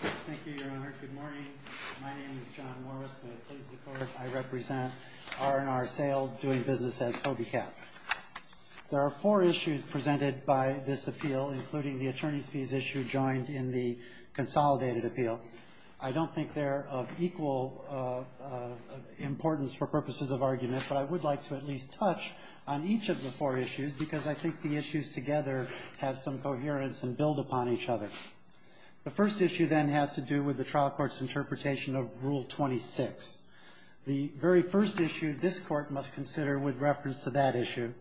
Thank you, Your Honor. Good morning. My name is John Morris, and I please the Court. I represent R & R Sails, doing business as HOBYCAT. There are four issues presented by this appeal, including the attorneys' fees issue joined in the consolidated appeal. I don't think they're of equal importance for purposes of argument, but I would like to at least touch on each of the four issues because I think the issues together have some coherence and build upon each other. The first issue, then, has to do with the trial court's interpretation of Rule 26. The very first issue this Court must consider with reference to that issue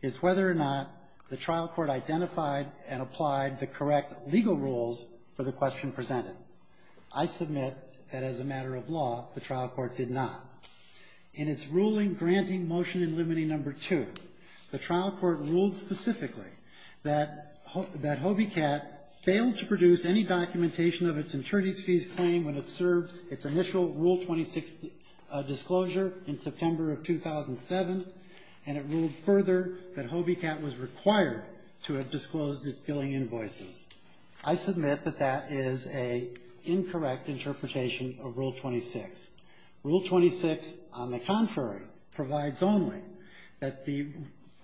is whether or not the trial court identified and applied the correct legal rules for the question presented. I submit that as a matter of law, the trial court did not. In its ruling granting Motion in Limity No. 2, the trial court ruled specifically that HOBYCAT failed to produce any documentation of its attorneys' fees claim when it served its initial Rule 26 disclosure in September of 2007, and it ruled further that HOBYCAT was required to have disclosed its billing invoices. I submit that that is an incorrect interpretation of Rule 26. Rule 26, on the contrary, provides only that the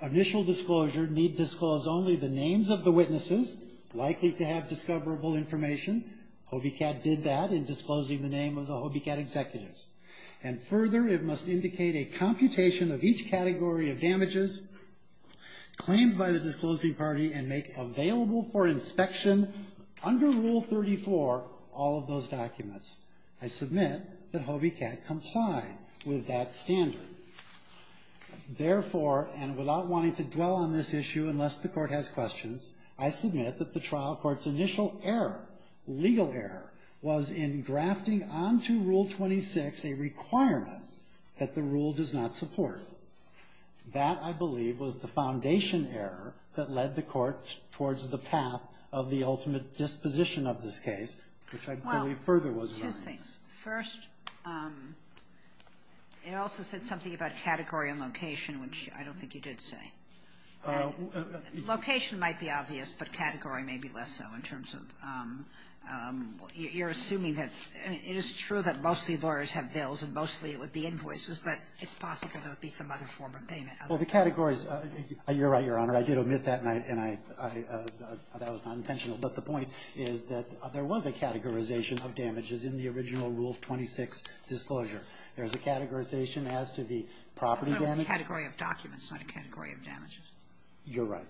initial disclosure need disclose only the names of the witnesses likely to have discoverable information. HOBYCAT did that in disclosing the name of the HOBYCAT executives. And further, it must indicate a computation of each category of damages claimed by the disclosing party and make available for inspection under Rule 34 all of those documents. I submit that HOBYCAT complied with that standard. Therefore, and without wanting to dwell on this issue unless the Court has questions, I submit that the trial court's initial error, legal error, was in grafting onto Rule 26 a requirement that the rule does not support. That, I believe, was the foundation error that led the Court towards the path of the ultimate disposition of this case, which I believe further was violence. Kagan. Well, two things. First, it also said something about category and location, which I don't think you did say. Location might be obvious, but category may be less so in terms of you're assuming that, I mean, it is true that mostly lawyers have bills and mostly it would be invoices, but it's possible there would be some other form of payment. Well, the categories, you're right, Your Honor. I did omit that, and I, that was not intentional. But the point is that there was a categorization of damages in the original Rule 26 disclosure. There's a categorization as to the property damage. But it was a category of documents, not a category of damages. You're right.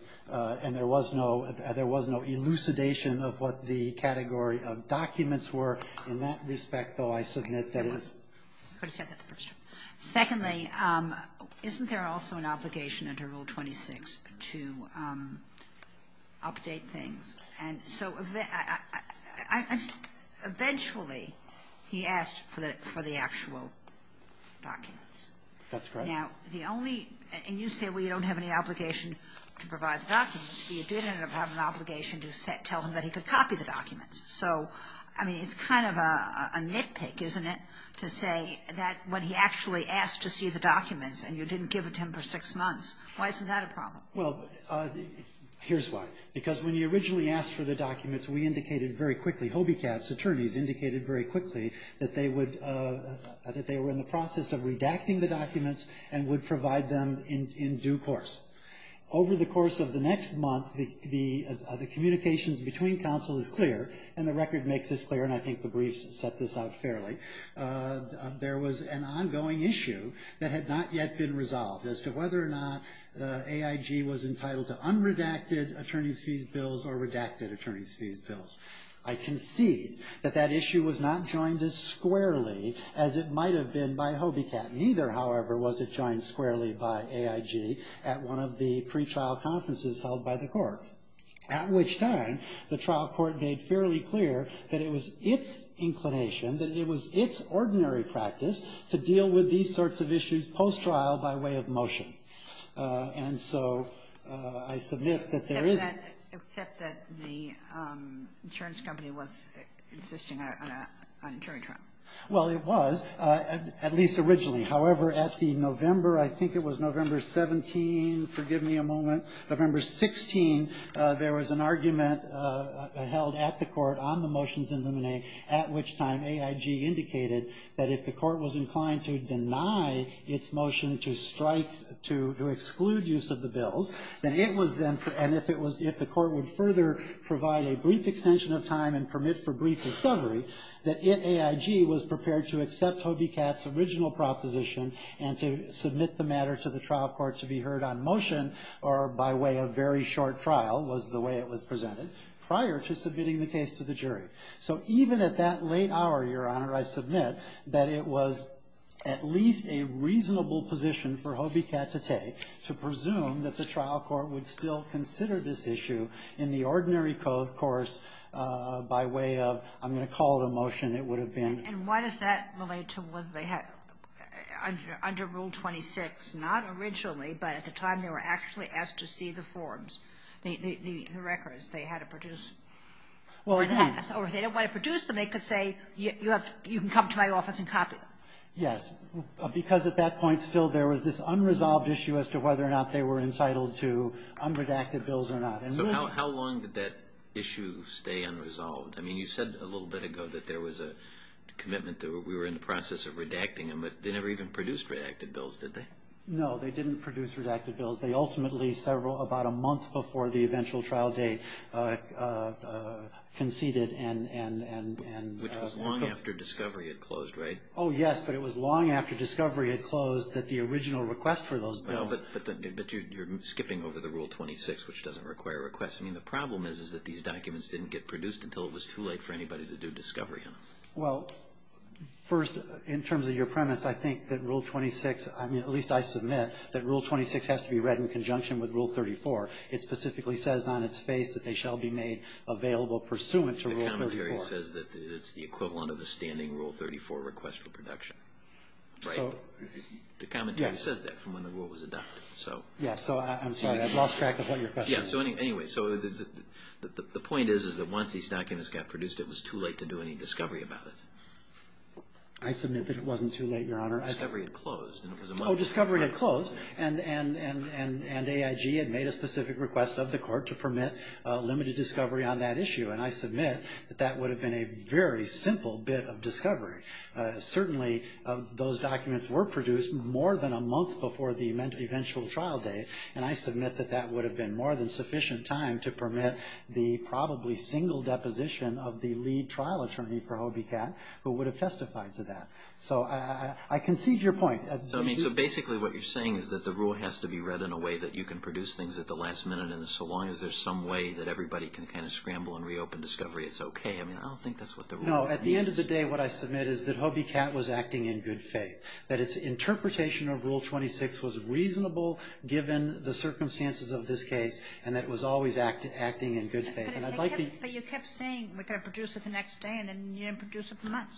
And there was no, there was no elucidation of what the category of documents were. In that respect, though, I submit that it was. I could have said that first. Secondly, isn't there also an obligation under Rule 26 to update things? And so eventually he asked for the actual documents. That's correct. Now, the only, and you say we don't have any obligation to provide the documents, but you did have an obligation to tell him that he could copy the documents. So, I mean, it's kind of a nitpick, isn't it, to say that when he actually asked to see the documents and you didn't give it to him for six months. Why isn't that a problem? Well, here's why. Because when you originally asked for the documents, we indicated very quickly, Hobiecatz attorneys indicated very quickly that they would, that they were in the and would provide them in due course. Over the course of the next month, the communications between counsel is clear, and the record makes this clear, and I think the briefs set this out fairly. There was an ongoing issue that had not yet been resolved as to whether or not AIG was entitled to unredacted attorney's fees bills or redacted attorney's fees bills. I concede that that issue was not joined as squarely as it might have been by Hobiecatz. Neither, however, was it joined squarely by AIG at one of the pre-trial conferences held by the court, at which time the trial court made fairly clear that it was its inclination, that it was its ordinary practice to deal with these sorts of issues post-trial by way of motion. And so I submit that there is Except that the insurance company was insisting on an attorney trial. Well, it was, at least originally. However, at the November, I think it was November 17, forgive me a moment, November 16, there was an argument held at the court on the motions in Luminae, at which time AIG indicated that if the court was inclined to deny its motion to strike, to exclude use of the bills, then it was then, and if it was, if the court would further provide a brief extension of time and permit for brief discovery, that AIG was prepared to accept Hobiecatz's original proposition and to submit the matter to the trial court to be heard on motion, or by way of very short trial, was the way it was presented, prior to submitting the case to the jury. So even at that late hour, Your Honor, I submit that it was at least a reasonable position for Hobiecatz to take to presume that the trial court would still consider this issue in the ordinary court course by way of, I'm going to call it a motion, it would have been. And why does that relate to whether they had, under Rule 26, not originally, but at the time they were actually asked to see the forms, the records, they had to produce, or if they didn't want to produce them, they could say, you can come to my office and copy them. Yes, because at that point, still, there was this unresolved issue as to whether or not they were entitled to unredacted bills or not. So how long did that issue stay unresolved? I mean, you said a little bit ago that there was a commitment that we were in the process of redacting them, but they never even produced redacted bills, did they? No, they didn't produce redacted bills. They ultimately, several, about a month before the eventual trial date, conceded and... Which was long after discovery had closed, right? Oh, yes, but it was long after discovery had closed that the original request for those bills... No, but you're skipping over the Rule 26, which doesn't require a request. I mean, the problem is that these documents didn't get produced until it was too late for anybody to do discovery, huh? Well, first, in terms of your premise, I think that Rule 26, I mean, at least I submit, that Rule 26 has to be read in conjunction with Rule 34. It specifically says on its face that they shall be made available pursuant to Rule 34. The commentary says that it's the equivalent of a standing Rule 34 request for production, right? The commentary says that from when the Rule was adopted, so... Yeah, so I'm sorry, I've lost track of what your question is. Yeah, so anyway, so the point is, is that once these documents got produced, it was too late to do any discovery about it. I submit that it wasn't too late, Your Honor. Discovery had closed, and it was a month... Oh, discovery had closed, and AIG had made a specific request of the Court to permit limited discovery on that issue, and I submit that that would have been a very simple bit of discovery. Certainly, those documents were produced more than a month before the eventual trial day, and I submit that that would have been more than sufficient time to permit the probably single deposition of the lead trial attorney for Hobie Catt, who would have testified to that. So I concede your point. So, I mean, so basically what you're saying is that the rule has to be read in a way that you can produce things at the last minute, and so long as there's some way that everybody can kind of scramble and reopen discovery, it's okay. I mean, I don't think that's what the rule... No, at the end of the day, what I submit is that Hobie Catt was acting in good faith, that its interpretation of Rule 26 was reasonable given the circumstances of this case, and that it was always acting in good faith, and I'd like to... But you kept saying we're going to produce it the next day, and then you didn't produce it for months.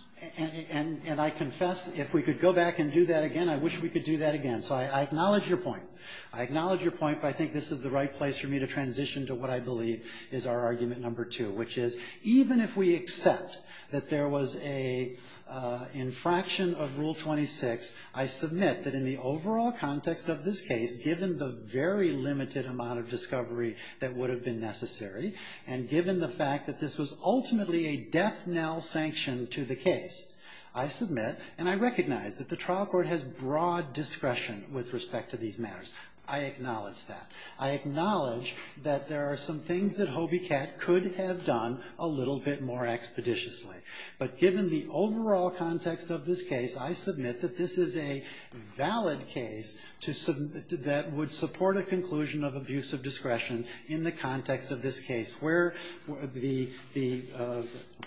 And I confess, if we could go back and do that again, I wish we could do that again. So I acknowledge your point. I acknowledge your point, but I think this is the right place for me to transition to what I believe is our argument number two, which is even if we accept that there was an infraction of Rule 26, I submit that in the overall context of this case, given the very limited amount of discovery that would have been necessary, and given the fact that this was ultimately a death knell sanction to the case, I submit and I recognize that the trial court has broad discretion with respect to these matters. I acknowledge that. I acknowledge that there are some things that Hobie Catt could have done a little bit more expeditiously. But given the overall context of this case, I submit that this is a valid case that would support a conclusion of abuse of discretion in the context of this case, where the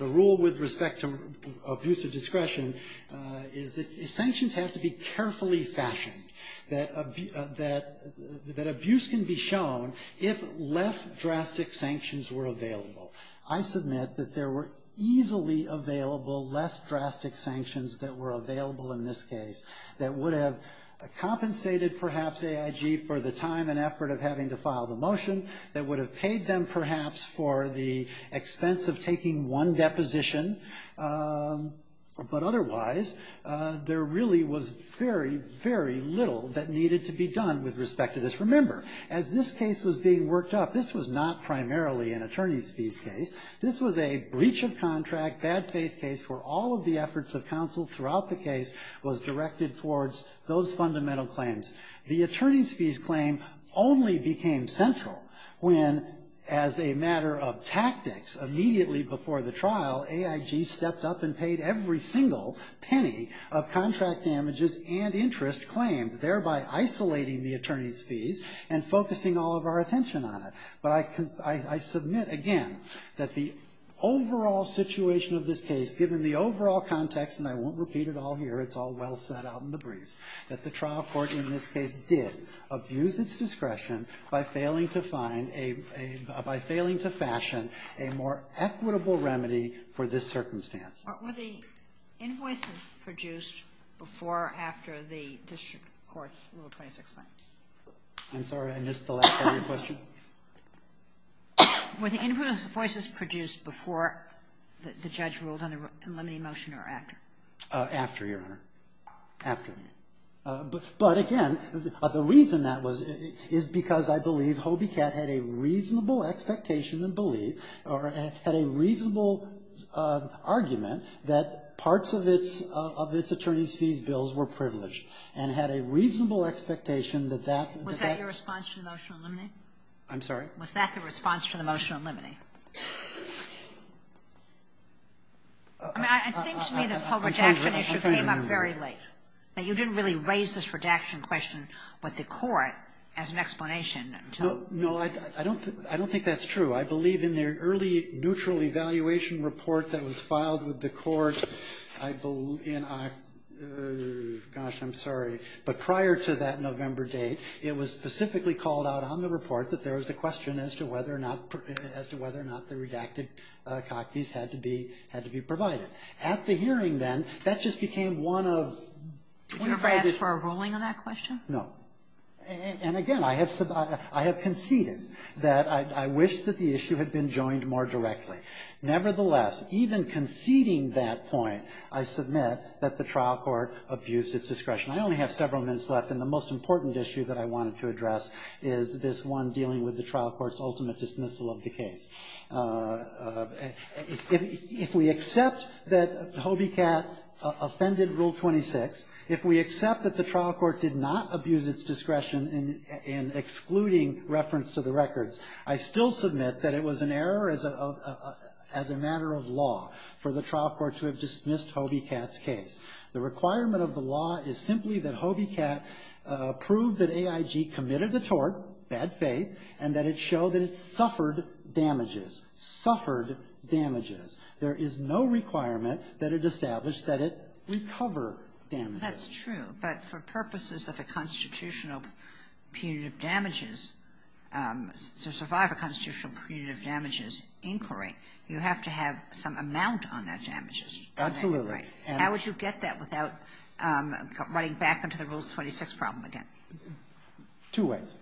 rule with respect to abuse of discretion is that sanctions have to be carefully fashioned, that abuse can be shown if less drastic sanctions were available. I submit that there were easily available less drastic sanctions that were available in this case that would have compensated perhaps AIG for the time and effort of having to file the motion, that would have paid them perhaps for the expense of taking one deposition. But otherwise, there really was very, very little that needed to be done with respect to this. Remember, as this case was being worked up, this was not primarily an attorney's fees case. This was a breach of contract, bad faith case, where all of the efforts of counsel throughout the case was directed towards those fundamental claims. The attorney's fees claim only became central when, as a matter of tactics, immediately before the trial, AIG stepped up and paid every single penny of contract damages and interest claimed, thereby isolating the attorney's fees and focusing all of our attention on it. But I submit again that the overall situation of this case, given the overall context, and I won't repeat it all here, it's all well set out in the briefs, that the trial court in this case did abuse its discretion by failing to find a, by failing to fashion a more equitable remedy for this circumstance. Kagan. Were the invoices produced before or after the district court's Rule 26-5? I'm sorry, I missed the last part of your question. Were the invoices produced before the judge ruled on the limiting motion or after? After, Your Honor. After. But again, the reason that was is because I believe Hobie Catt had a reasonable expectation and believed, or had a reasonable argument, that parts of its, of its attorney's fees bills were privileged and had a reasonable expectation that that. Was that your response to the motion on limine? Was that the response to the motion on limine? I mean, it seems to me this whole redaction issue came up very late. Now, you didn't really raise this redaction question with the court as an explanation until. No, I don't, I don't think that's true. I believe in the early neutral evaluation report that was filed with the court, I believe, and I, gosh, I'm sorry, but prior to that November date, it was specifically called out on the report that there was a question as to whether or not, as to whether or not the redacted copies had to be, had to be provided. At the hearing then, that just became one of. Did you ever ask for a ruling on that question? No. And again, I have, I have conceded that I wish that the issue had been joined more directly. Nevertheless, even conceding that point, I submit that the trial court abused its discretion. I only have several minutes left, and the most important issue that I wanted to address is this one dealing with the trial court's ultimate dismissal of the case. If we accept that Hobie Catt offended Rule 26, if we accept that the trial court did not abuse its discretion in excluding reference to the records, I still submit that it was an error as a, as a matter of law for the trial court to have dismissed Hobie Catt's case. The requirement of the law is simply that Hobie Catt prove that AIG committed a tort, bad faith, and that it show that it suffered damages. Suffered damages. There is no requirement that it establish that it recover damages. That's true. But for purposes of a constitutional punitive damages, to survive a constitutional punitive damages inquiry, you have to have some amount on that damages. Absolutely. Right. How would you get that without running back into the Rule 26 problem again? Two ways.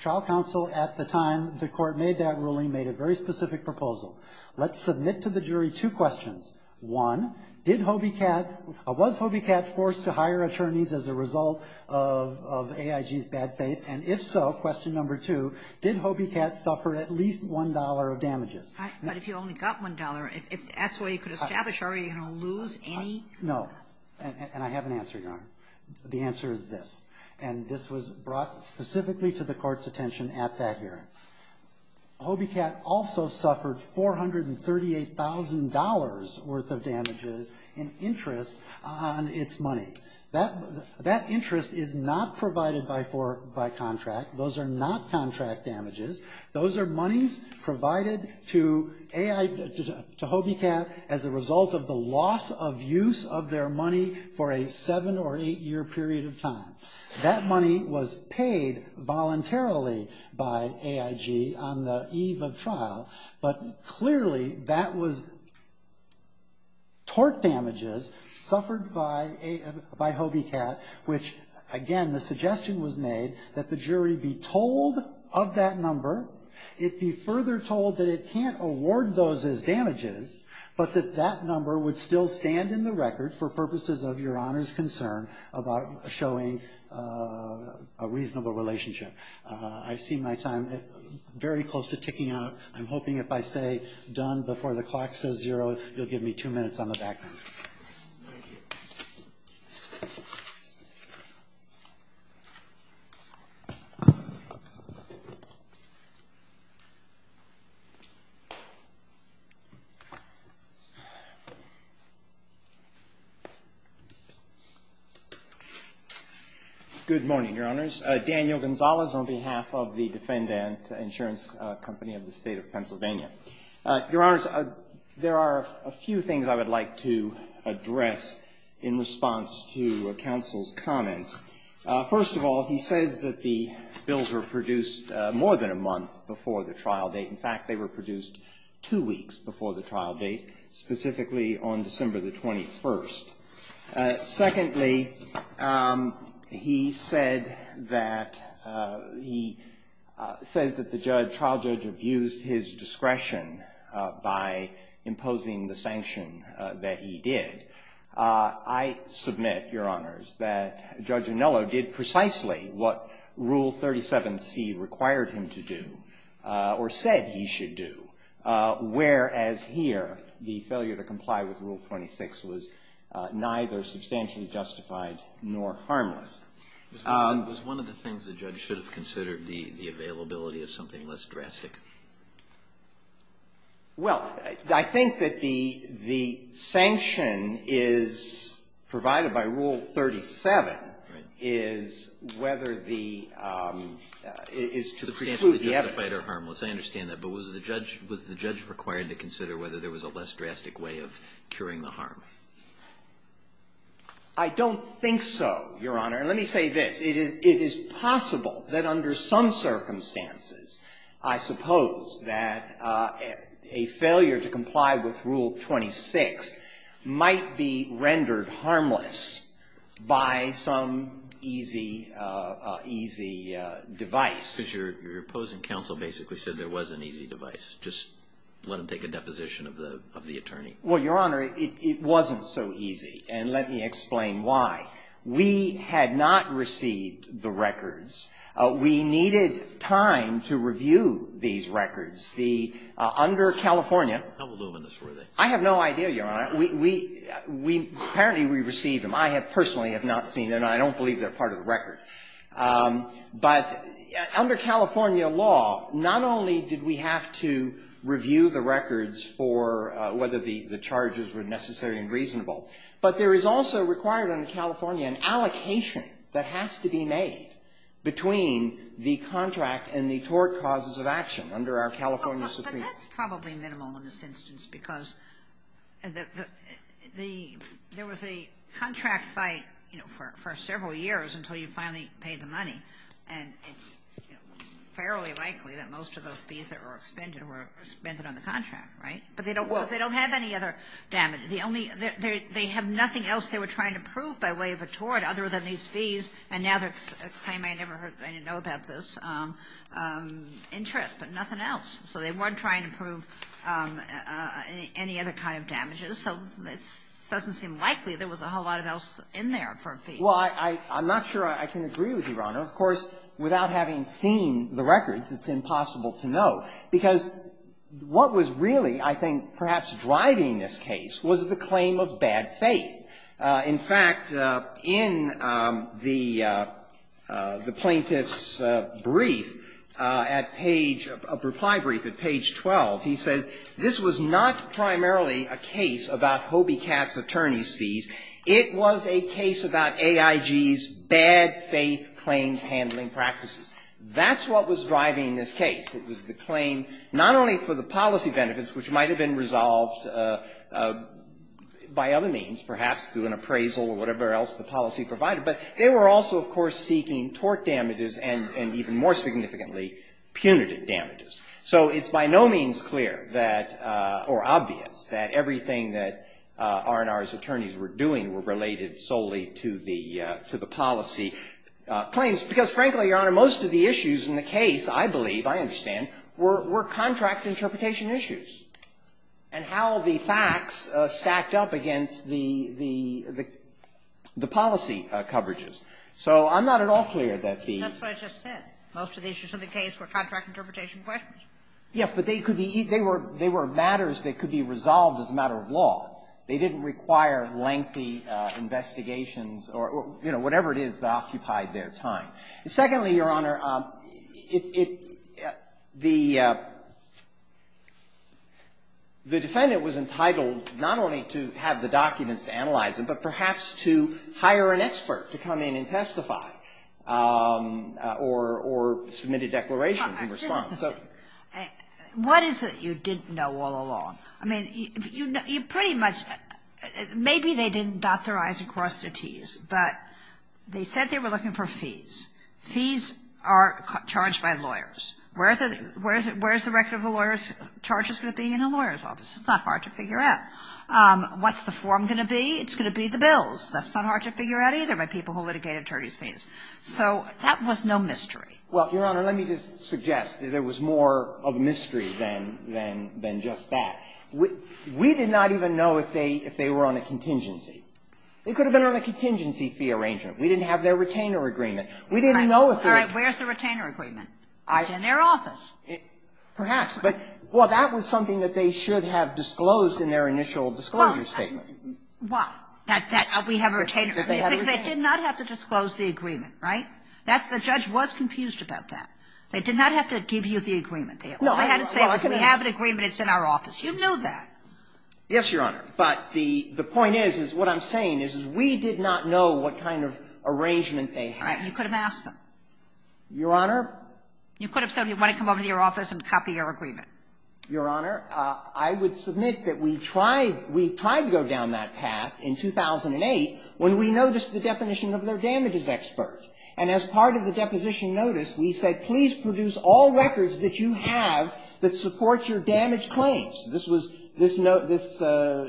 Trial counsel at the time the court made that ruling made a very specific proposal. Let's submit to the jury two questions. One, did Hobie Catt, was Hobie Catt forced to hire attorneys as a result of AIG's bad faith? And if so, question number two, did Hobie Catt suffer at least $1 of damages? But if you only got $1, if that's what you could establish, are you going to lose any? No. And I have an answer, Your Honor. The answer is this. And this was brought specifically to the court's attention at that hearing. Hobie Catt also suffered $438,000 worth of damages in interest on its money. That interest is not provided by contract. Those are not contract damages. Those are monies provided to Hobie Catt as a result of the loss of use of their money for a seven- or eight-year period of time. That money was paid voluntarily by AIG on the eve of trial. But clearly that was tort damages suffered by Hobie Catt, which, again, the suggestion was made that the jury be told of that number, it be further told that it can't award those as damages, but that that number would still stand in the record for purposes of Your Honor's concern about showing a reasonable relationship. I see my time very close to ticking out. I'm hoping if I say done before the clock says zero, you'll give me two minutes on the background. on behalf of the Defendant Insurance Company of the State of Pennsylvania. Your Honors, there are a few things I would like to address in response to counsel's comments. First of all, he says that the bills were produced more than a month before the trial date. In fact, they were produced two weeks before the trial date, specifically on December the 21st. Secondly, he said that he says that the judge, trial judge, abused his discretion by imposing the sanction that he did. I submit, Your Honors, that Judge Anello did precisely what Rule 37c required him to do or said he should do, whereas here the failure to comply with Rule 26 was neither substantially justified nor harmless. Was one of the things the judge should have considered the availability of something less drastic? Well, I think that the sanction is provided by Rule 37 is whether the – is to preclude the evidence. Substantially justified or harmless. I understand that. But was the judge required to consider whether there was a less drastic way of curing the harm? I don't think so, Your Honor. Let me say this. It is possible that under some circumstances, I suppose, that a failure to comply with Rule 26 might be rendered harmless by some easy, easy device. Because your opposing counsel basically said there was an easy device. Just let him take a deposition of the attorney. Well, Your Honor, it wasn't so easy. And let me explain why. We had not received the records. We needed time to review these records. The – under California – How voluminous were they? I have no idea, Your Honor. We – we – apparently we received them. I have personally have not seen them. I don't believe they're part of the record. But under California law, not only did we have to review the records for whether the charges were necessary and reasonable, but there is also required under California an allocation that has to be made between the contract and the tort causes of action under our California Supreme Court. But that's probably minimal in this instance because the – there was a contract site, you know, for several years until you finally paid the money. And it's fairly likely that most of those fees that were expended were expended on the contract, right? But they don't have any other damage. The only – they have nothing else they were trying to prove by way of a tort other than these fees. And now there's a claim I never – I didn't know about this interest, but nothing else. So they weren't trying to prove any other kind of damages. So it doesn't seem likely there was a whole lot of else in there for a fee. Well, I'm not sure I can agree with you, Your Honor. Of course, without having seen the records, it's impossible to know. Because what was really, I think, perhaps driving this case was the claim of bad faith. In fact, in the plaintiff's brief at page – reply brief at page 12, he says, this was not primarily a case about Hobie Catt's attorney's fees. It was a case about AIG's bad faith claims handling practices. That's what was driving this case. It was the claim not only for the policy benefits, which might have been resolved by other means, perhaps through an appraisal or whatever else the policy provided, but they were also, of course, seeking tort damages and even more significantly punitive damages. So it's by no means clear that – or obvious that everything that R&R's attorneys were doing were related solely to the policy claims. Because, frankly, Your Honor, most of the issues in the case, I believe, I understand, were contract interpretation issues and how the facts stacked up against the policy coverages. So I'm not at all clear that the – That's what I just said. Most of the issues in the case were contract interpretation questions. Yes. But they could be – they were matters that could be resolved as a matter of law. They didn't require lengthy investigations or, you know, whatever it is that occupied their time. Secondly, Your Honor, it – the defendant was entitled not only to have the documents to analyze them, but perhaps to hire an expert to come in and testify or submit a declaration in response. What is it you didn't know all along? I mean, you pretty much – maybe they didn't dot their I's and cross their T's, but they said they were looking for fees. Fees are charged by lawyers. Where is the record of the lawyer's charges going to be in a lawyer's office? It's not hard to figure out. What's the form going to be? It's going to be the bills. That's not hard to figure out either by people who litigate attorney's fees. So that was no mystery. Well, Your Honor, let me just suggest that there was more of a mystery than – than just that. We – we did not even know if they – if they were on a contingency. They could have been on a contingency fee arrangement. We didn't have their retainer agreement. We didn't know if they were – All right. Where's the retainer agreement? It's in their office. Perhaps. But, well, that was something that they should have disclosed in their initial disclosure statement. Well, that – that we have a retainer agreement. They did not have to disclose the agreement, right? That's – the judge was confused about that. They did not have to give you the agreement. Well, I had to say, if we have an agreement, it's in our office. You know that. Yes, Your Honor. But the – the point is, is what I'm saying is, is we did not know what kind of arrangement they had. Right. You could have asked them. Your Honor? You could have said you want to come over to your office and copy your agreement. Your Honor, I would submit that we tried – we tried to go down that path in 2008 when we noticed the definition of their damages expert. And as part of the deposition notice, we said, please produce all records that you have that support your damage claims. This was – this note – this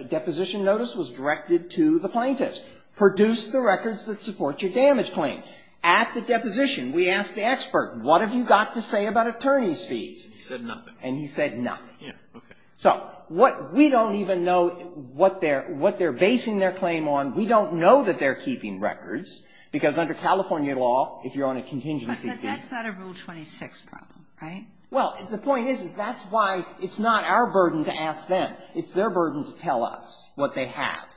deposition notice was directed to the plaintiffs. Produce the records that support your damage claim. At the deposition, we asked the expert, what have you got to say about attorney's fees? And he said nothing. And he said nothing. Yes. Okay. So what – we don't even know what they're – what they're basing their claim on. We don't know that they're keeping records, because under California law, if you're on a contingency fee But that's not a Rule 26 problem, right? Well, the point is, is that's why it's not our burden to ask them. It's their burden to tell us what they have.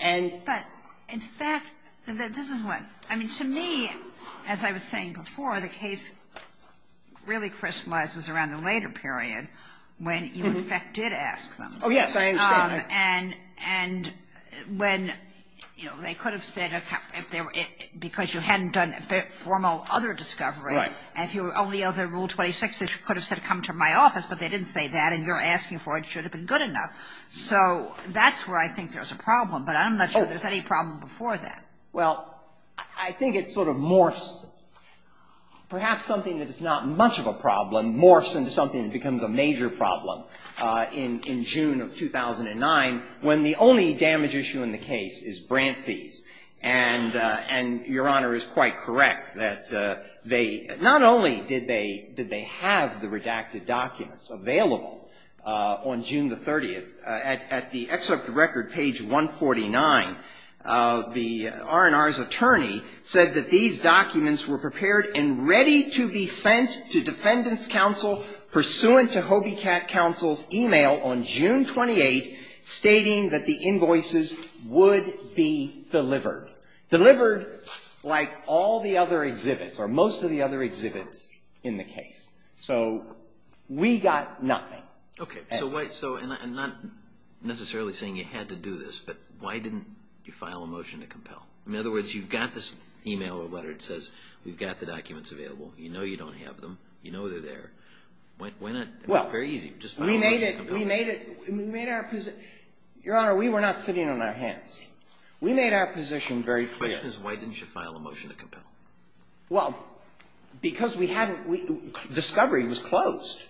And But, in fact, this is what – I mean, to me, as I was saying before, the case really crystallizes around the later period when you, in fact, did ask them. Oh, yes. I understand. And when – you know, they could have said – because you hadn't done a formal other discovery. Right. And if you were only under Rule 26, they could have said come to my office, but they didn't say that. And you're asking for it. It should have been good enough. So that's where I think there's a problem, but I'm not sure there's any problem before that. Well, I think it sort of morphs – perhaps something that is not much of a problem morphs into something that becomes a major problem in June of 2009, when the only damage issue in the case is grant fees. And Your Honor is quite correct that they – not only did they have the redacted documents available on June the 30th, at the excerpt of record, page 149, the R&R's attorney said that these documents were prepared and ready to be sent to Defendant's Counsel, pursuant to Hobby Cat Counsel's email on June 28, stating that the invoices would be delivered. Delivered like all the other exhibits, or most of the other exhibits in the case. So we got nothing. Okay. So why – and not necessarily saying you had to do this, but why didn't you get the documents available? You know you don't have them. You know they're there. Why not – it's very easy. Just file a motion to compel. Well, we made it – we made our – Your Honor, we were not sitting on our hands. We made our position very clear. The question is why didn't you file a motion to compel? Well, because we hadn't – Discovery was closed.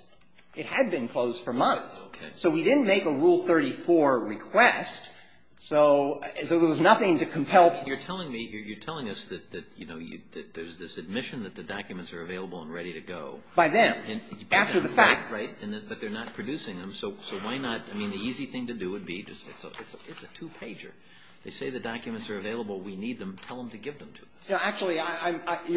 It had been closed for months. Okay. So we didn't make a Rule 34 request, so there was nothing to compel. You're telling me – you're telling us that, you know, there's this admission that the documents are available and ready to go. By them. After the fact. Right, right. But they're not producing them, so why not – I mean, the easy thing to do would be – it's a two-pager. They say the documents are available. We need them. Tell them to give them to us. Actually, Your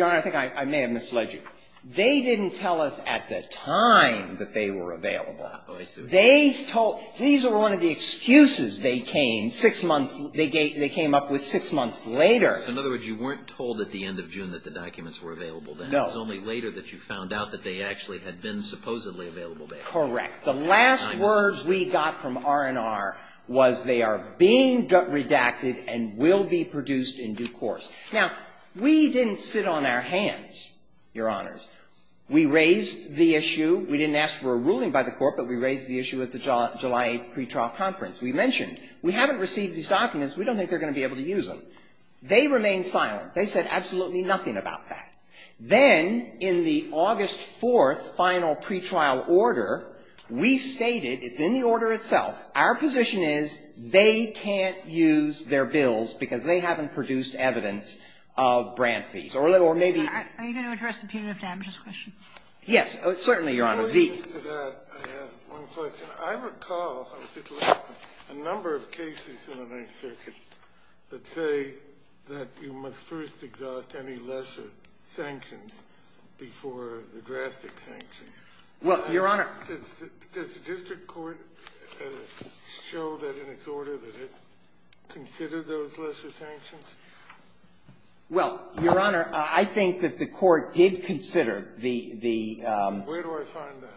Honor, I think I may have misled you. They didn't tell us at the time that they were available. Oh, I see. They told – these were one of the excuses they came – six months – they came up with six months later. In other words, you weren't told at the end of June that the documents were available then. No. It was only later that you found out that they actually had been supposedly available then. Correct. The last words we got from R&R was they are being redacted and will be produced in due course. Now, we didn't sit on our hands, Your Honors. We raised the issue. We didn't ask for a ruling by the court, but we raised the issue at the July 8th pretrial conference. We mentioned we haven't received these documents. We don't think they're going to be able to use them. They remained silent. They said absolutely nothing about that. Then in the August 4th final pretrial order, we stated – it's in the order itself – our position is they can't use their bills because they haven't produced evidence of grant fees, or maybe – Are you going to address the punitive damages question? Yes, certainly, Your Honor. In addition to that, I have one question. I recall a number of cases in the Ninth Circuit that say that you must first exhaust any lesser sanctions before the drastic sanctions. Well, Your Honor – Does the district court show that in its order that it considered those lesser sanctions? Well, Your Honor, I think that the court did consider the – Where do I find that?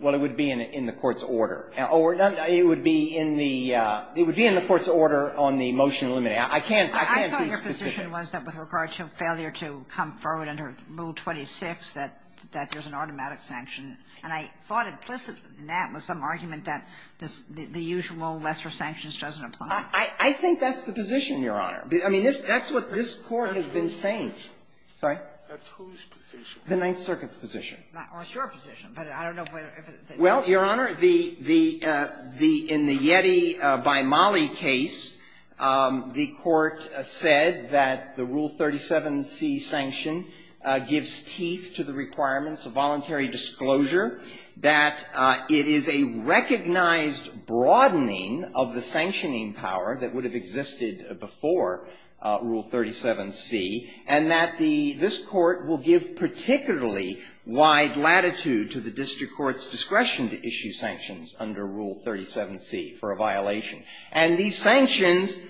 Well, it would be in the court's order. It would be in the court's order on the motion eliminating. I can't be specific. I thought your position was that with regard to failure to come forward under Rule 26 that there's an automatic sanction, and I thought implicit in that was some argument that the usual lesser sanctions doesn't apply. I think that's the position, Your Honor. I mean, that's what this Court has been saying. Sorry? That's whose position? The Ninth Circuit's position. Well, it's your position, but I don't know if it's – Well, Your Honor, the – in the Yeti by Mali case, the Court said that the Rule 37c sanction gives teeth to the requirements of voluntary disclosure, that it is a recognized broadening of the sanctioning power that would have existed before Rule 37c, and that the – this Court will give particularly wide latitude to the district court's discretion to issue sanctions under Rule 37c for a violation. And these sanctions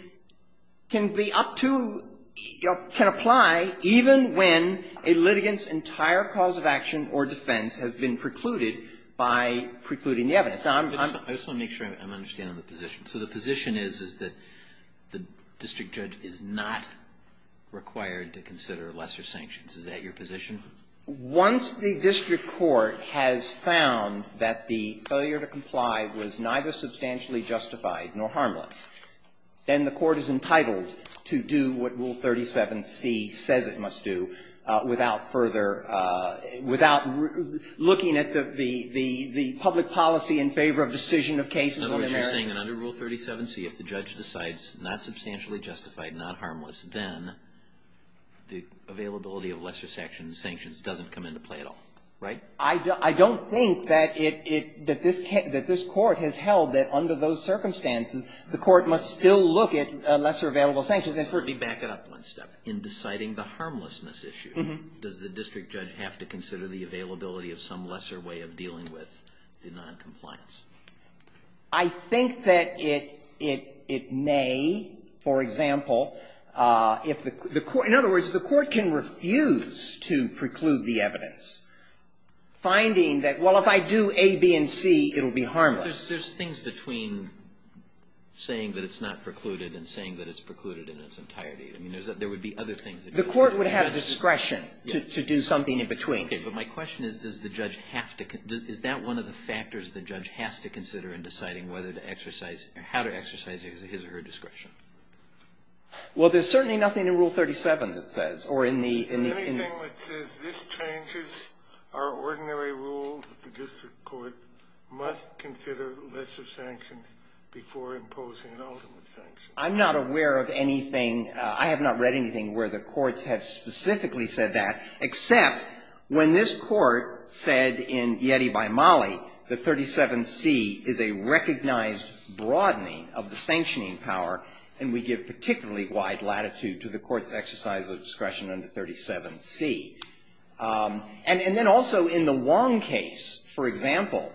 can be up to – can apply even when a litigant's entire cause of action or defense has been precluded by precluding the evidence. I just want to make sure I'm understanding the position. So the position is, is that the district judge is not required to consider lesser sanctions. Is that your position? Once the district court has found that the failure to comply was neither substantially justified nor harmless, then the court is entitled to do what Rule 37c says it must do without further – without looking at the public policy in favor of decision of cases on the merits. In other words, you're saying that under Rule 37c, if the judge decides not substantially justified, not harmless, then the availability of lesser sanctions doesn't come into play at all, right? I don't think that it – that this – that this Court has held that under those circumstances, the Court must still look at lesser available sanctions. Sotomayor, I just want to quickly back it up one step. In deciding the harmlessness issue, does the district judge have to consider the availability of some lesser way of dealing with the noncompliance? I think that it – it may, for example, if the court – in other words, the court can refuse to preclude the evidence, finding that, well, if I do A, B, and C, it will be harmless. Well, there's – there's things between saying that it's not precluded and saying that it's precluded in its entirety. I mean, there's – there would be other things. The court would have discretion to do something in between. Okay. But my question is, does the judge have to – is that one of the factors the judge has to consider in deciding whether to exercise – how to exercise his or her discretion? Well, there's certainly nothing in Rule 37 that says, or in the – in the – There's nothing that says, this changes our ordinary rule that the district court must consider lesser sanctions before imposing an ultimate sanction. I'm not aware of anything – I have not read anything where the courts have specifically said that, except when this court said in Yeti by Mollie that 37C is a recognized broadening of the sanctioning power, and we give particularly wide latitude to the And then also in the Wong case, for example,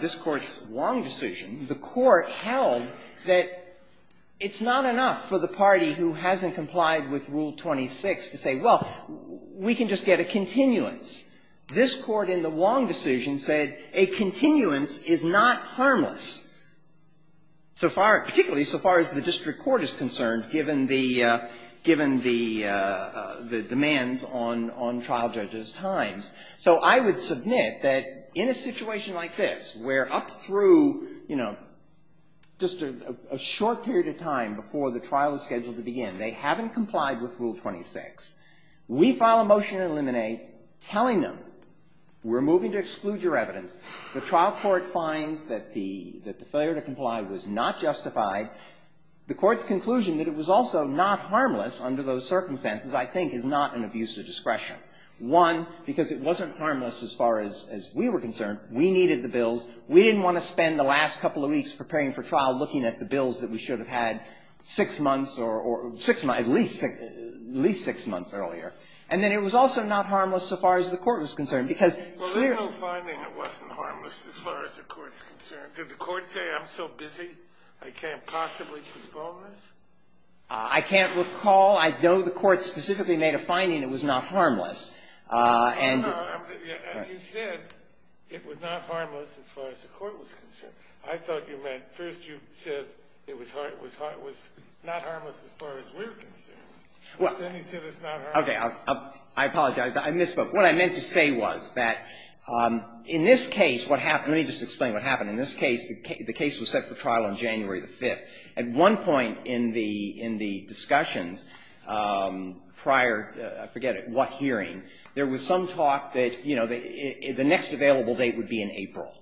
this Court's Wong decision, the court held that it's not enough for the party who hasn't complied with Rule 26 to say, well, we can just get a continuance. This Court in the Wong decision said a continuance is not harmless, so far – particularly so far as the district court is concerned, given the – given the demands on – on trial judges' times. So I would submit that in a situation like this, where up through, you know, just a short period of time before the trial is scheduled to begin, they haven't complied with Rule 26, we file a motion to eliminate telling them, we're moving to exclude your evidence, the trial court finds that the failure to comply was not justified. The Court's conclusion that it was also not harmless under those circumstances, I think, is not an abuse of discretion. One, because it wasn't harmless as far as we were concerned. We needed the bills. We didn't want to spend the last couple of weeks preparing for trial looking at the bills that we should have had six months or – at least six months earlier. And then it was also not harmless so far as the Court was concerned, because Well, there's no finding it wasn't harmless as far as the Court's concerned. Did the Court say, I'm so busy, I can't possibly postpone this? I can't recall. I know the Court specifically made a finding it was not harmless. And you said it was not harmless as far as the Court was concerned. I thought you meant – first you said it was not harmless as far as we're concerned. Then you said it's not harmless. Okay. I apologize. I misspoke. What I meant to say was that in this case, what happened – let me just explain what happened. In this case, the case was set for trial on January the 5th. At one point in the discussions prior – I forget it – what hearing, there was some talk that, you know, the next available date would be in April.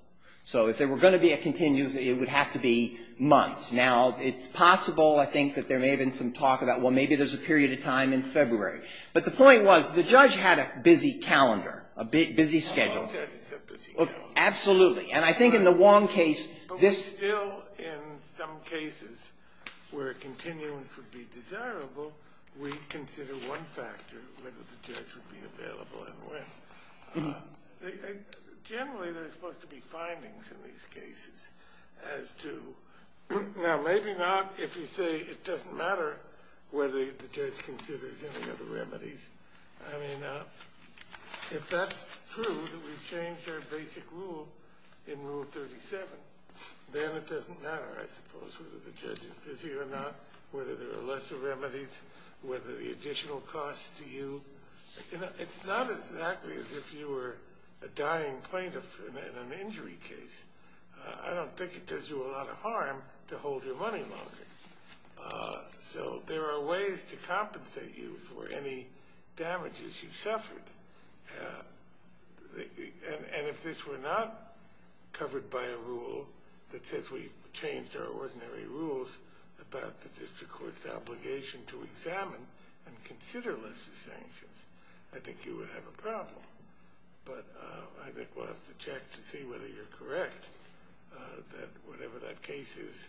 So if there were going to be a continuous, it would have to be months. Now, it's possible, I think, that there may have been some talk about, well, maybe there's a period of time in February. But the point was the judge had a busy calendar, a busy schedule. Absolutely. And I think in the Wong case, this – But we still, in some cases, where continuance would be desirable, we consider one factor, whether the judge would be available and when. Generally, there's supposed to be findings in these cases as to – now, maybe not if you say it doesn't matter whether the judge considers any other remedies. I mean, if that's true, that we've changed our basic rule in Rule 37, then it doesn't matter, I suppose, whether the judge is busy or not, whether there are lesser remedies, whether the additional costs to you – it's not exactly as if you were a dying plaintiff in an injury case. I don't think it does you a lot of harm to hold your money longer. So there are ways to compensate you for any damages you've suffered. And if this were not covered by a rule that says we've changed our ordinary rules about the district court's obligation to examine and consider lesser sanctions, I think you would have a problem. But I think we'll have to check to see whether you're correct, that whatever that case is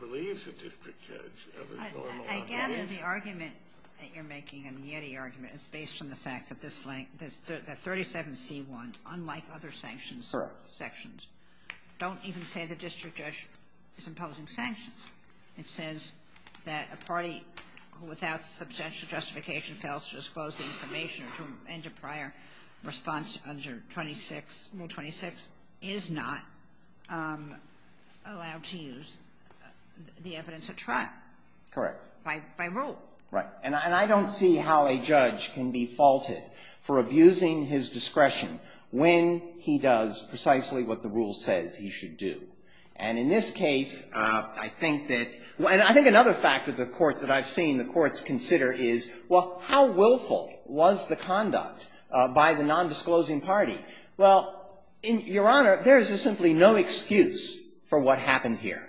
relieves the district judge of its normal obligation. I gather the argument that you're making, the Yeti argument, is based on the fact that this – that 37c1, unlike other sanctions sections, don't even say the district judge is imposing sanctions. It says that a party without substantial justification fails to disclose the information or to end a prior response under 26. Rule 26 is not allowed to use the evidence at trial. Correct. By rule. Right. And I don't see how a judge can be faulted for abusing his discretion when he does precisely what the rule says he should do. And in this case, I think that – and I think another fact of the courts that I've seen the courts consider is, well, how willful was the conduct by the nondisclosing party? Well, Your Honor, there is simply no excuse for what happened here.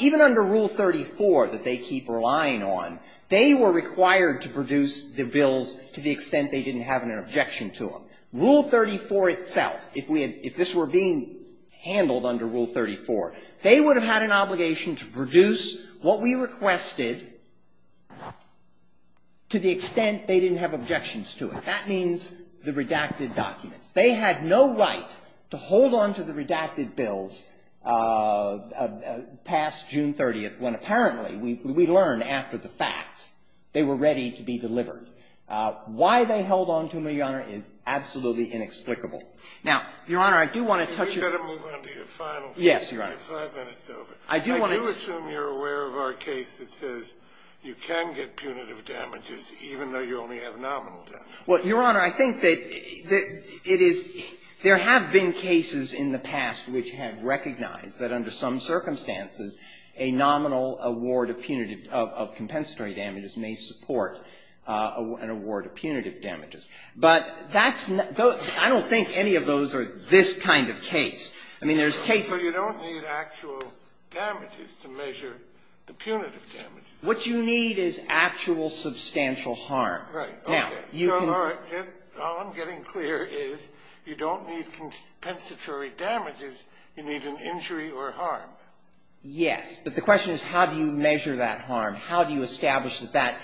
Even under Rule 34 that they keep relying on, they were required to produce the bills to the extent they didn't have an objection to them. Rule 34 itself, if we had – if this were being handled under Rule 34, they would have had an obligation to produce what we requested to the extent they didn't have objections to it. That means the redacted documents. They had no right to hold on to the redacted bills past June 30th, when apparently we learned after the fact they were ready to be delivered. Why they held on to them, Your Honor, is absolutely inexplicable. Now, Your Honor, I do want to touch on – You better move on to your final thing. Yes, Your Honor. Your five minutes is over. I do want to – I do assume you're aware of our case that says you can get punitive damages, even though you only have nominal damages. Well, Your Honor, I think that it is – there have been cases in the past which have recognized that under some circumstances a nominal award of punitive – of compensatory damages may support an award of punitive damages. But that's – I don't think any of those are this kind of case. I mean, there's cases – So you don't need actual damages to measure the punitive damages. What you need is actual substantial harm. Right. Now, you can – So, Your Honor, all I'm getting clear is you don't need compensatory damages. You need an injury or harm. Yes. But the question is how do you measure that harm? How do you establish that that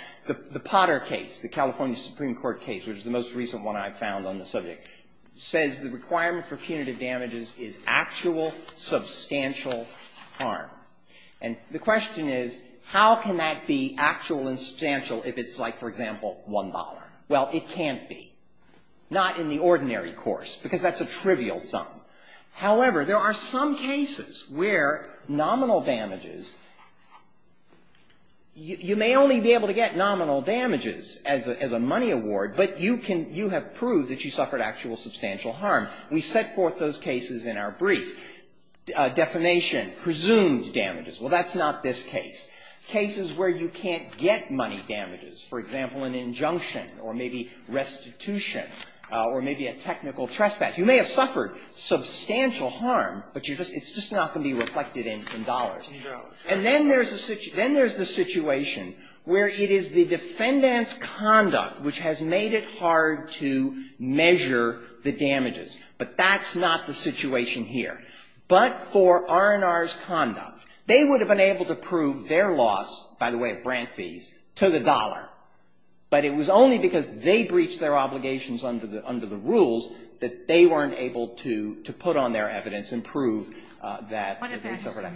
– the Potter case, the California Supreme Court case, which is the most substantial harm? And the question is how can that be actual and substantial if it's like, for example, $1? Well, it can't be. Not in the ordinary course, because that's a trivial sum. However, there are some cases where nominal damages – you may only be able to get nominal damages as a money award, but you can – you have proved that you suffered actual substantial harm. We set forth those cases in our brief. Defamation, presumed damages. Well, that's not this case. Cases where you can't get money damages, for example, an injunction or maybe restitution or maybe a technical trespass. You may have suffered substantial harm, but you're just – it's just not going to be reflected in dollars. And then there's a – then there's the situation where it is the defendant's conduct which has made it hard to measure the damages. But that's not the situation here. But for R&R's conduct, they would have been able to prove their loss, by the way, of grant fees, to the dollar. But it was only because they breached their obligations under the – under the rules that they weren't able to put on their evidence and prove that they suffered harm.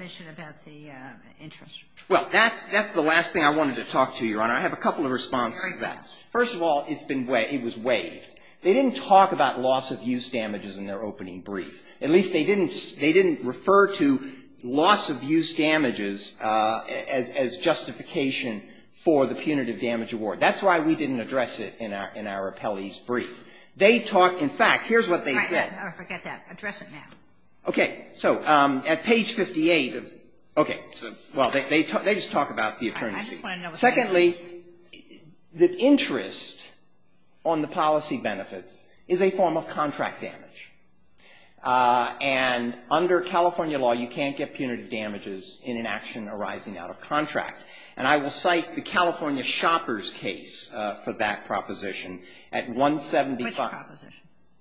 Well, that's – that's the last thing I wanted to talk to you on. I have a couple of responses to that. First of all, it's been – it was waived. They didn't talk about loss of use damages in their opening brief. At least they didn't – they didn't refer to loss of use damages as justification for the punitive damage award. That's why we didn't address it in our – in our appellee's brief. They talked – in fact, here's what they said. Oh, forget that. Address it now. Okay. So at page 58 of – okay. Well, they – they just talk about the attorneys' brief. I just want to know what that is. Secondly, the interest on the policy benefits is a form of contract damage. And under California law, you can't get punitive damages in an action arising out of contract. And I will cite the California shopper's case for that proposition at 175. Which proposition?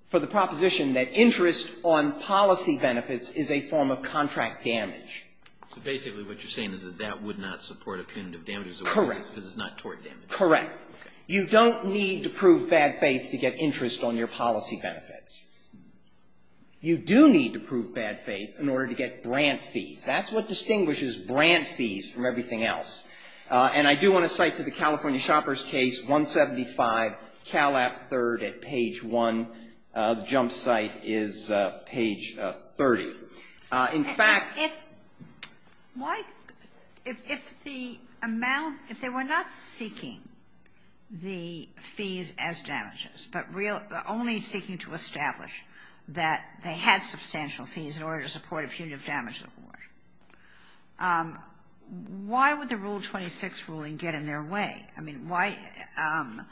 For the proposition that interest on policy benefits is a form of contract damage. So basically what you're saying is that that would not support a punitive damage award? Correct. Because it's not tort damage. Correct. You don't need to prove bad faith to get interest on your policy benefits. You do need to prove bad faith in order to get grant fees. That's what distinguishes grant fees from everything else. And I do want to cite to the jump site is page 30. In fact – If – why – if the amount – if they were not seeking the fees as damages, but only seeking to establish that they had substantial fees in order to support a punitive damage award, why would the Rule 26 ruling get in their way? I mean, why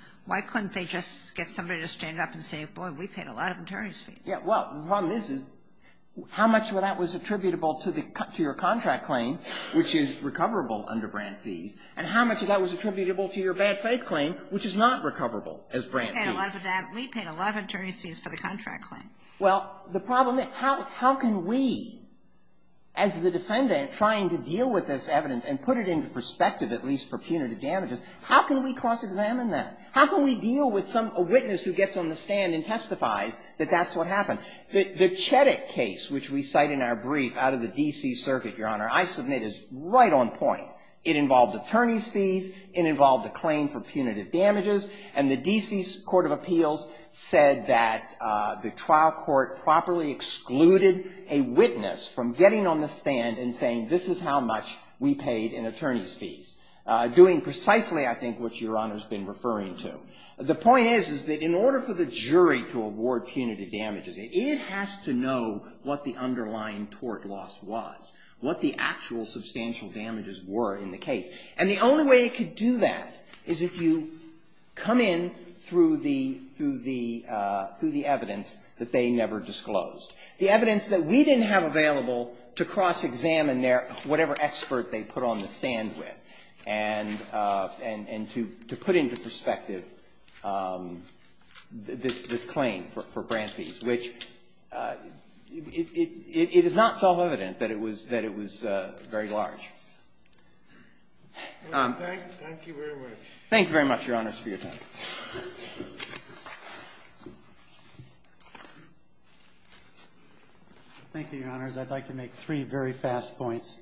– why couldn't they just get somebody to stand up and say, boy, we paid a lot of attorney's fees? Yeah. Well, the problem is how much of that was attributable to the – to your contract claim, which is recoverable under grant fees, and how much of that was attributable to your bad faith claim, which is not recoverable as grant fees? We paid a lot of – we paid a lot of attorney's fees for the contract claim. Well, the problem is how can we, as the defendant trying to deal with this evidence and put it into perspective, at least for punitive damages, how can we cross-examine that? How can we deal with some – a witness who gets on the stand and testifies that that's what happened? The – the Cheddick case, which we cite in our brief out of the D.C. Circuit, Your Honor, I submit is right on point. It involved attorney's fees. It involved a claim for punitive damages. And the D.C. Court of Appeals said that the trial court properly excluded a witness from getting on the stand and saying, this is how much we paid in attorney's fees, doing precisely, I think, what Your Honor's been referring to. The point is, is that in order for the jury to award punitive damages, it has to know what the underlying tort loss was, what the actual substantial damages were in the case. And the only way it could do that is if you come in through the – through the – through the evidence that they never disclosed. The evidence that we didn't have available to cross-examine their – whatever expert they put on the stand with and – and to put into perspective this claim for brand fees, which it is not self-evident that it was – that it was very large. Thank you very much, Your Honor, for your time. Thank you, Your Honors. I'd like to make three very fast points.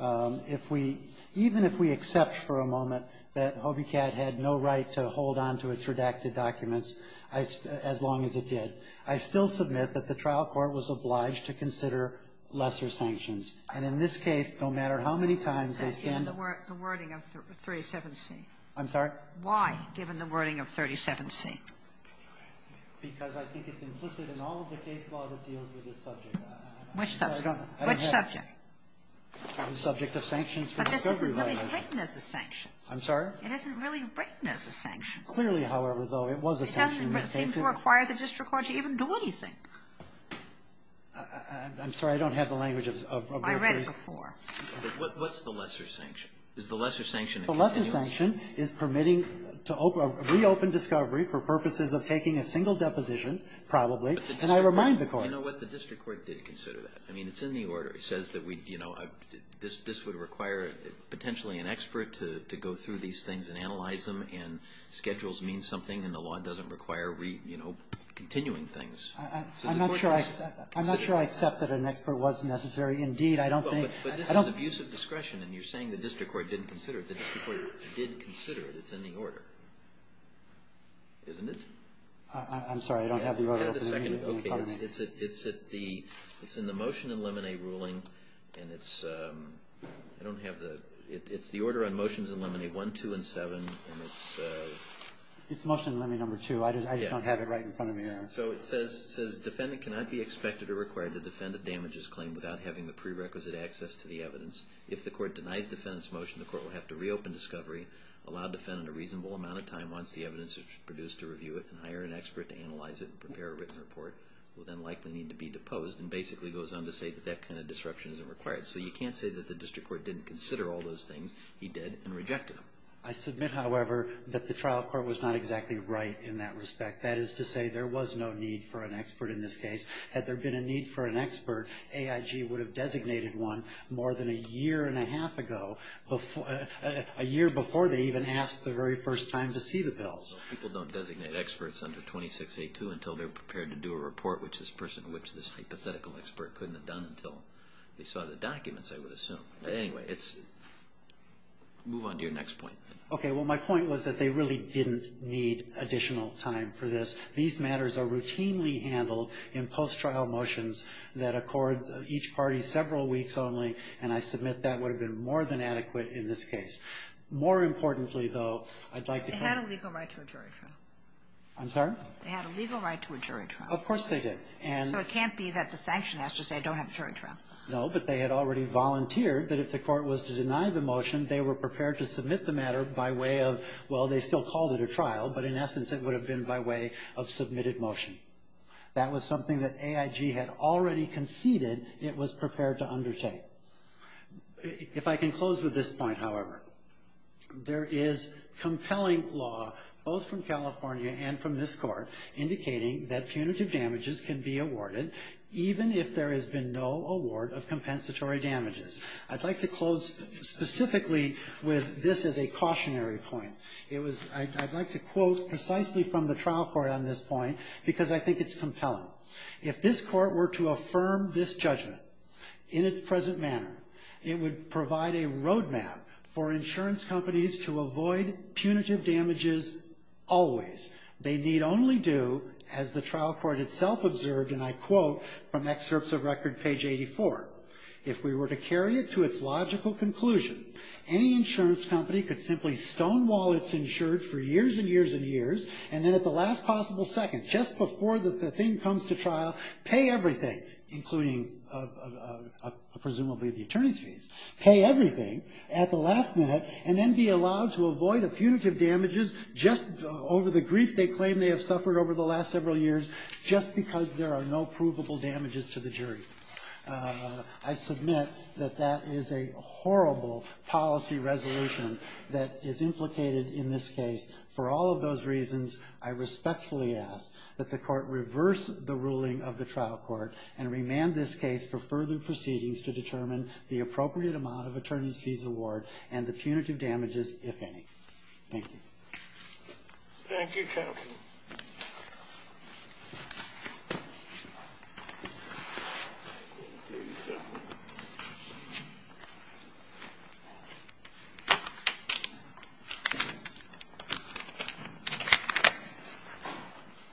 If we – even if we accept for a moment that HOBICAD had no right to hold on to its redacted documents, I – as long as it did, I still submit that the trial court was obliged to consider lesser sanctions. And in this case, no matter how many times they scanned the – The wording of 37C. I'm sorry? Why, given the wording of 37C? Because I think it's implicit in all of the case law that deals with this subject. I'm not sure. Which subject? Which subject? I'm subject of sanctions for discovery. But this isn't really written as a sanction. I'm sorry? It isn't really written as a sanction. Clearly, however, though, it was a sanction in this case. It doesn't seem to require the district court to even do anything. I'm sorry. I don't have the language of your brief. I read it before. What's the lesser sanction? Is the lesser sanction a continuity? The lesser sanction is permitting to reopen discovery for purposes of taking a single deposition, probably, and I remind the court. But the district court – you know what? The district court did consider that. I mean, it's in the order. It says that we – you know, this would require potentially an expert to go through these things and analyze them, and schedules mean something, and the law doesn't require, you know, continuing things. I'm not sure I accept that an expert was necessary. Indeed, I don't think – I don't think – But this is abuse of discretion, and you're saying the district court didn't consider it. The district court did consider it. It's in the order. Isn't it? I'm sorry. I don't have the order. I had a second. Okay. It's in the motion in lemonade ruling, and it's – I don't have the – it's the order on motions in lemonade 1, 2, and 7, and it's – It's motion in lemonade number 2. I just don't have it right in front of me here. So it says, defendant cannot be expected or required to defend a damages claim without having the prerequisite access to the evidence. If the court denies defendant's motion, the court will have to reopen discovery, allow defendant a reasonable amount of time once the evidence is produced to review it, and hire an expert to analyze it and prepare a written report, will then likely need to be deposed, and basically goes on to say that that kind of disruption isn't required. So you can't say that the district court didn't consider all those things. He did and rejected them. I submit, however, that the trial court was not exactly right in that respect. That is to say, there was no need for an expert in this case. Had there been a need for an expert, AIG would have designated one more than a year and a half ago, a year before they even asked the very first time to see the bills. People don't designate experts under 26A2 until they're prepared to do a report, which this person, which this hypothetical expert couldn't have done until they saw the documents, I would assume. Anyway, it's – move on to your next point. Okay, well, my point was that they really didn't need additional time for this. These matters are routinely handled in post-trial motions that accord each party several weeks only, and I submit that would have been more than adequate in this case. More importantly, though, I'd like to – They had a legal right to a jury trial. I'm sorry? They had a legal right to a jury trial. Of course they did. So it can't be that the sanction has to say I don't have a jury trial. No, but they had already volunteered that if the court was to deny the motion, they were prepared to submit the matter by way of – well, they still called it a trial, but in essence it would have been by way of submitted motion. That was something that AIG had already conceded it was prepared to undertake. If I can close with this point, however, there is compelling law, both from California and from this court, indicating that punitive damages can be awarded even if there has been no award of compensatory damages. I'd like to close specifically with this as a cautionary point. I'd like to quote precisely from the trial court on this point because I think it's compelling. If this court were to affirm this judgment in its present manner, it would provide a roadmap for insurance companies to avoid punitive damages always. They need only do, as the trial court itself observed, and I quote from excerpts of record page 84, if we were to carry it to its logical conclusion, any insurance company could simply stonewall its insurance for years and years and years and then at the last possible second, just before the thing comes to trial, pay everything, including presumably the attorney's fees, pay everything at the last minute and then be allowed to avoid punitive damages just over the grief they claim they have suffered over the last several years just because there are no provable damages to the jury. I submit that that is a horrible policy resolution that is implicated in this case. For all of those reasons, I respectfully ask that the court reverse the ruling of the trial court and remand this case for further proceedings to determine the appropriate amount of attorney's fees award and the punitive damages, if any. Thank you. Thank you, counsel.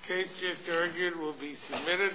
Case just argued will be submitted.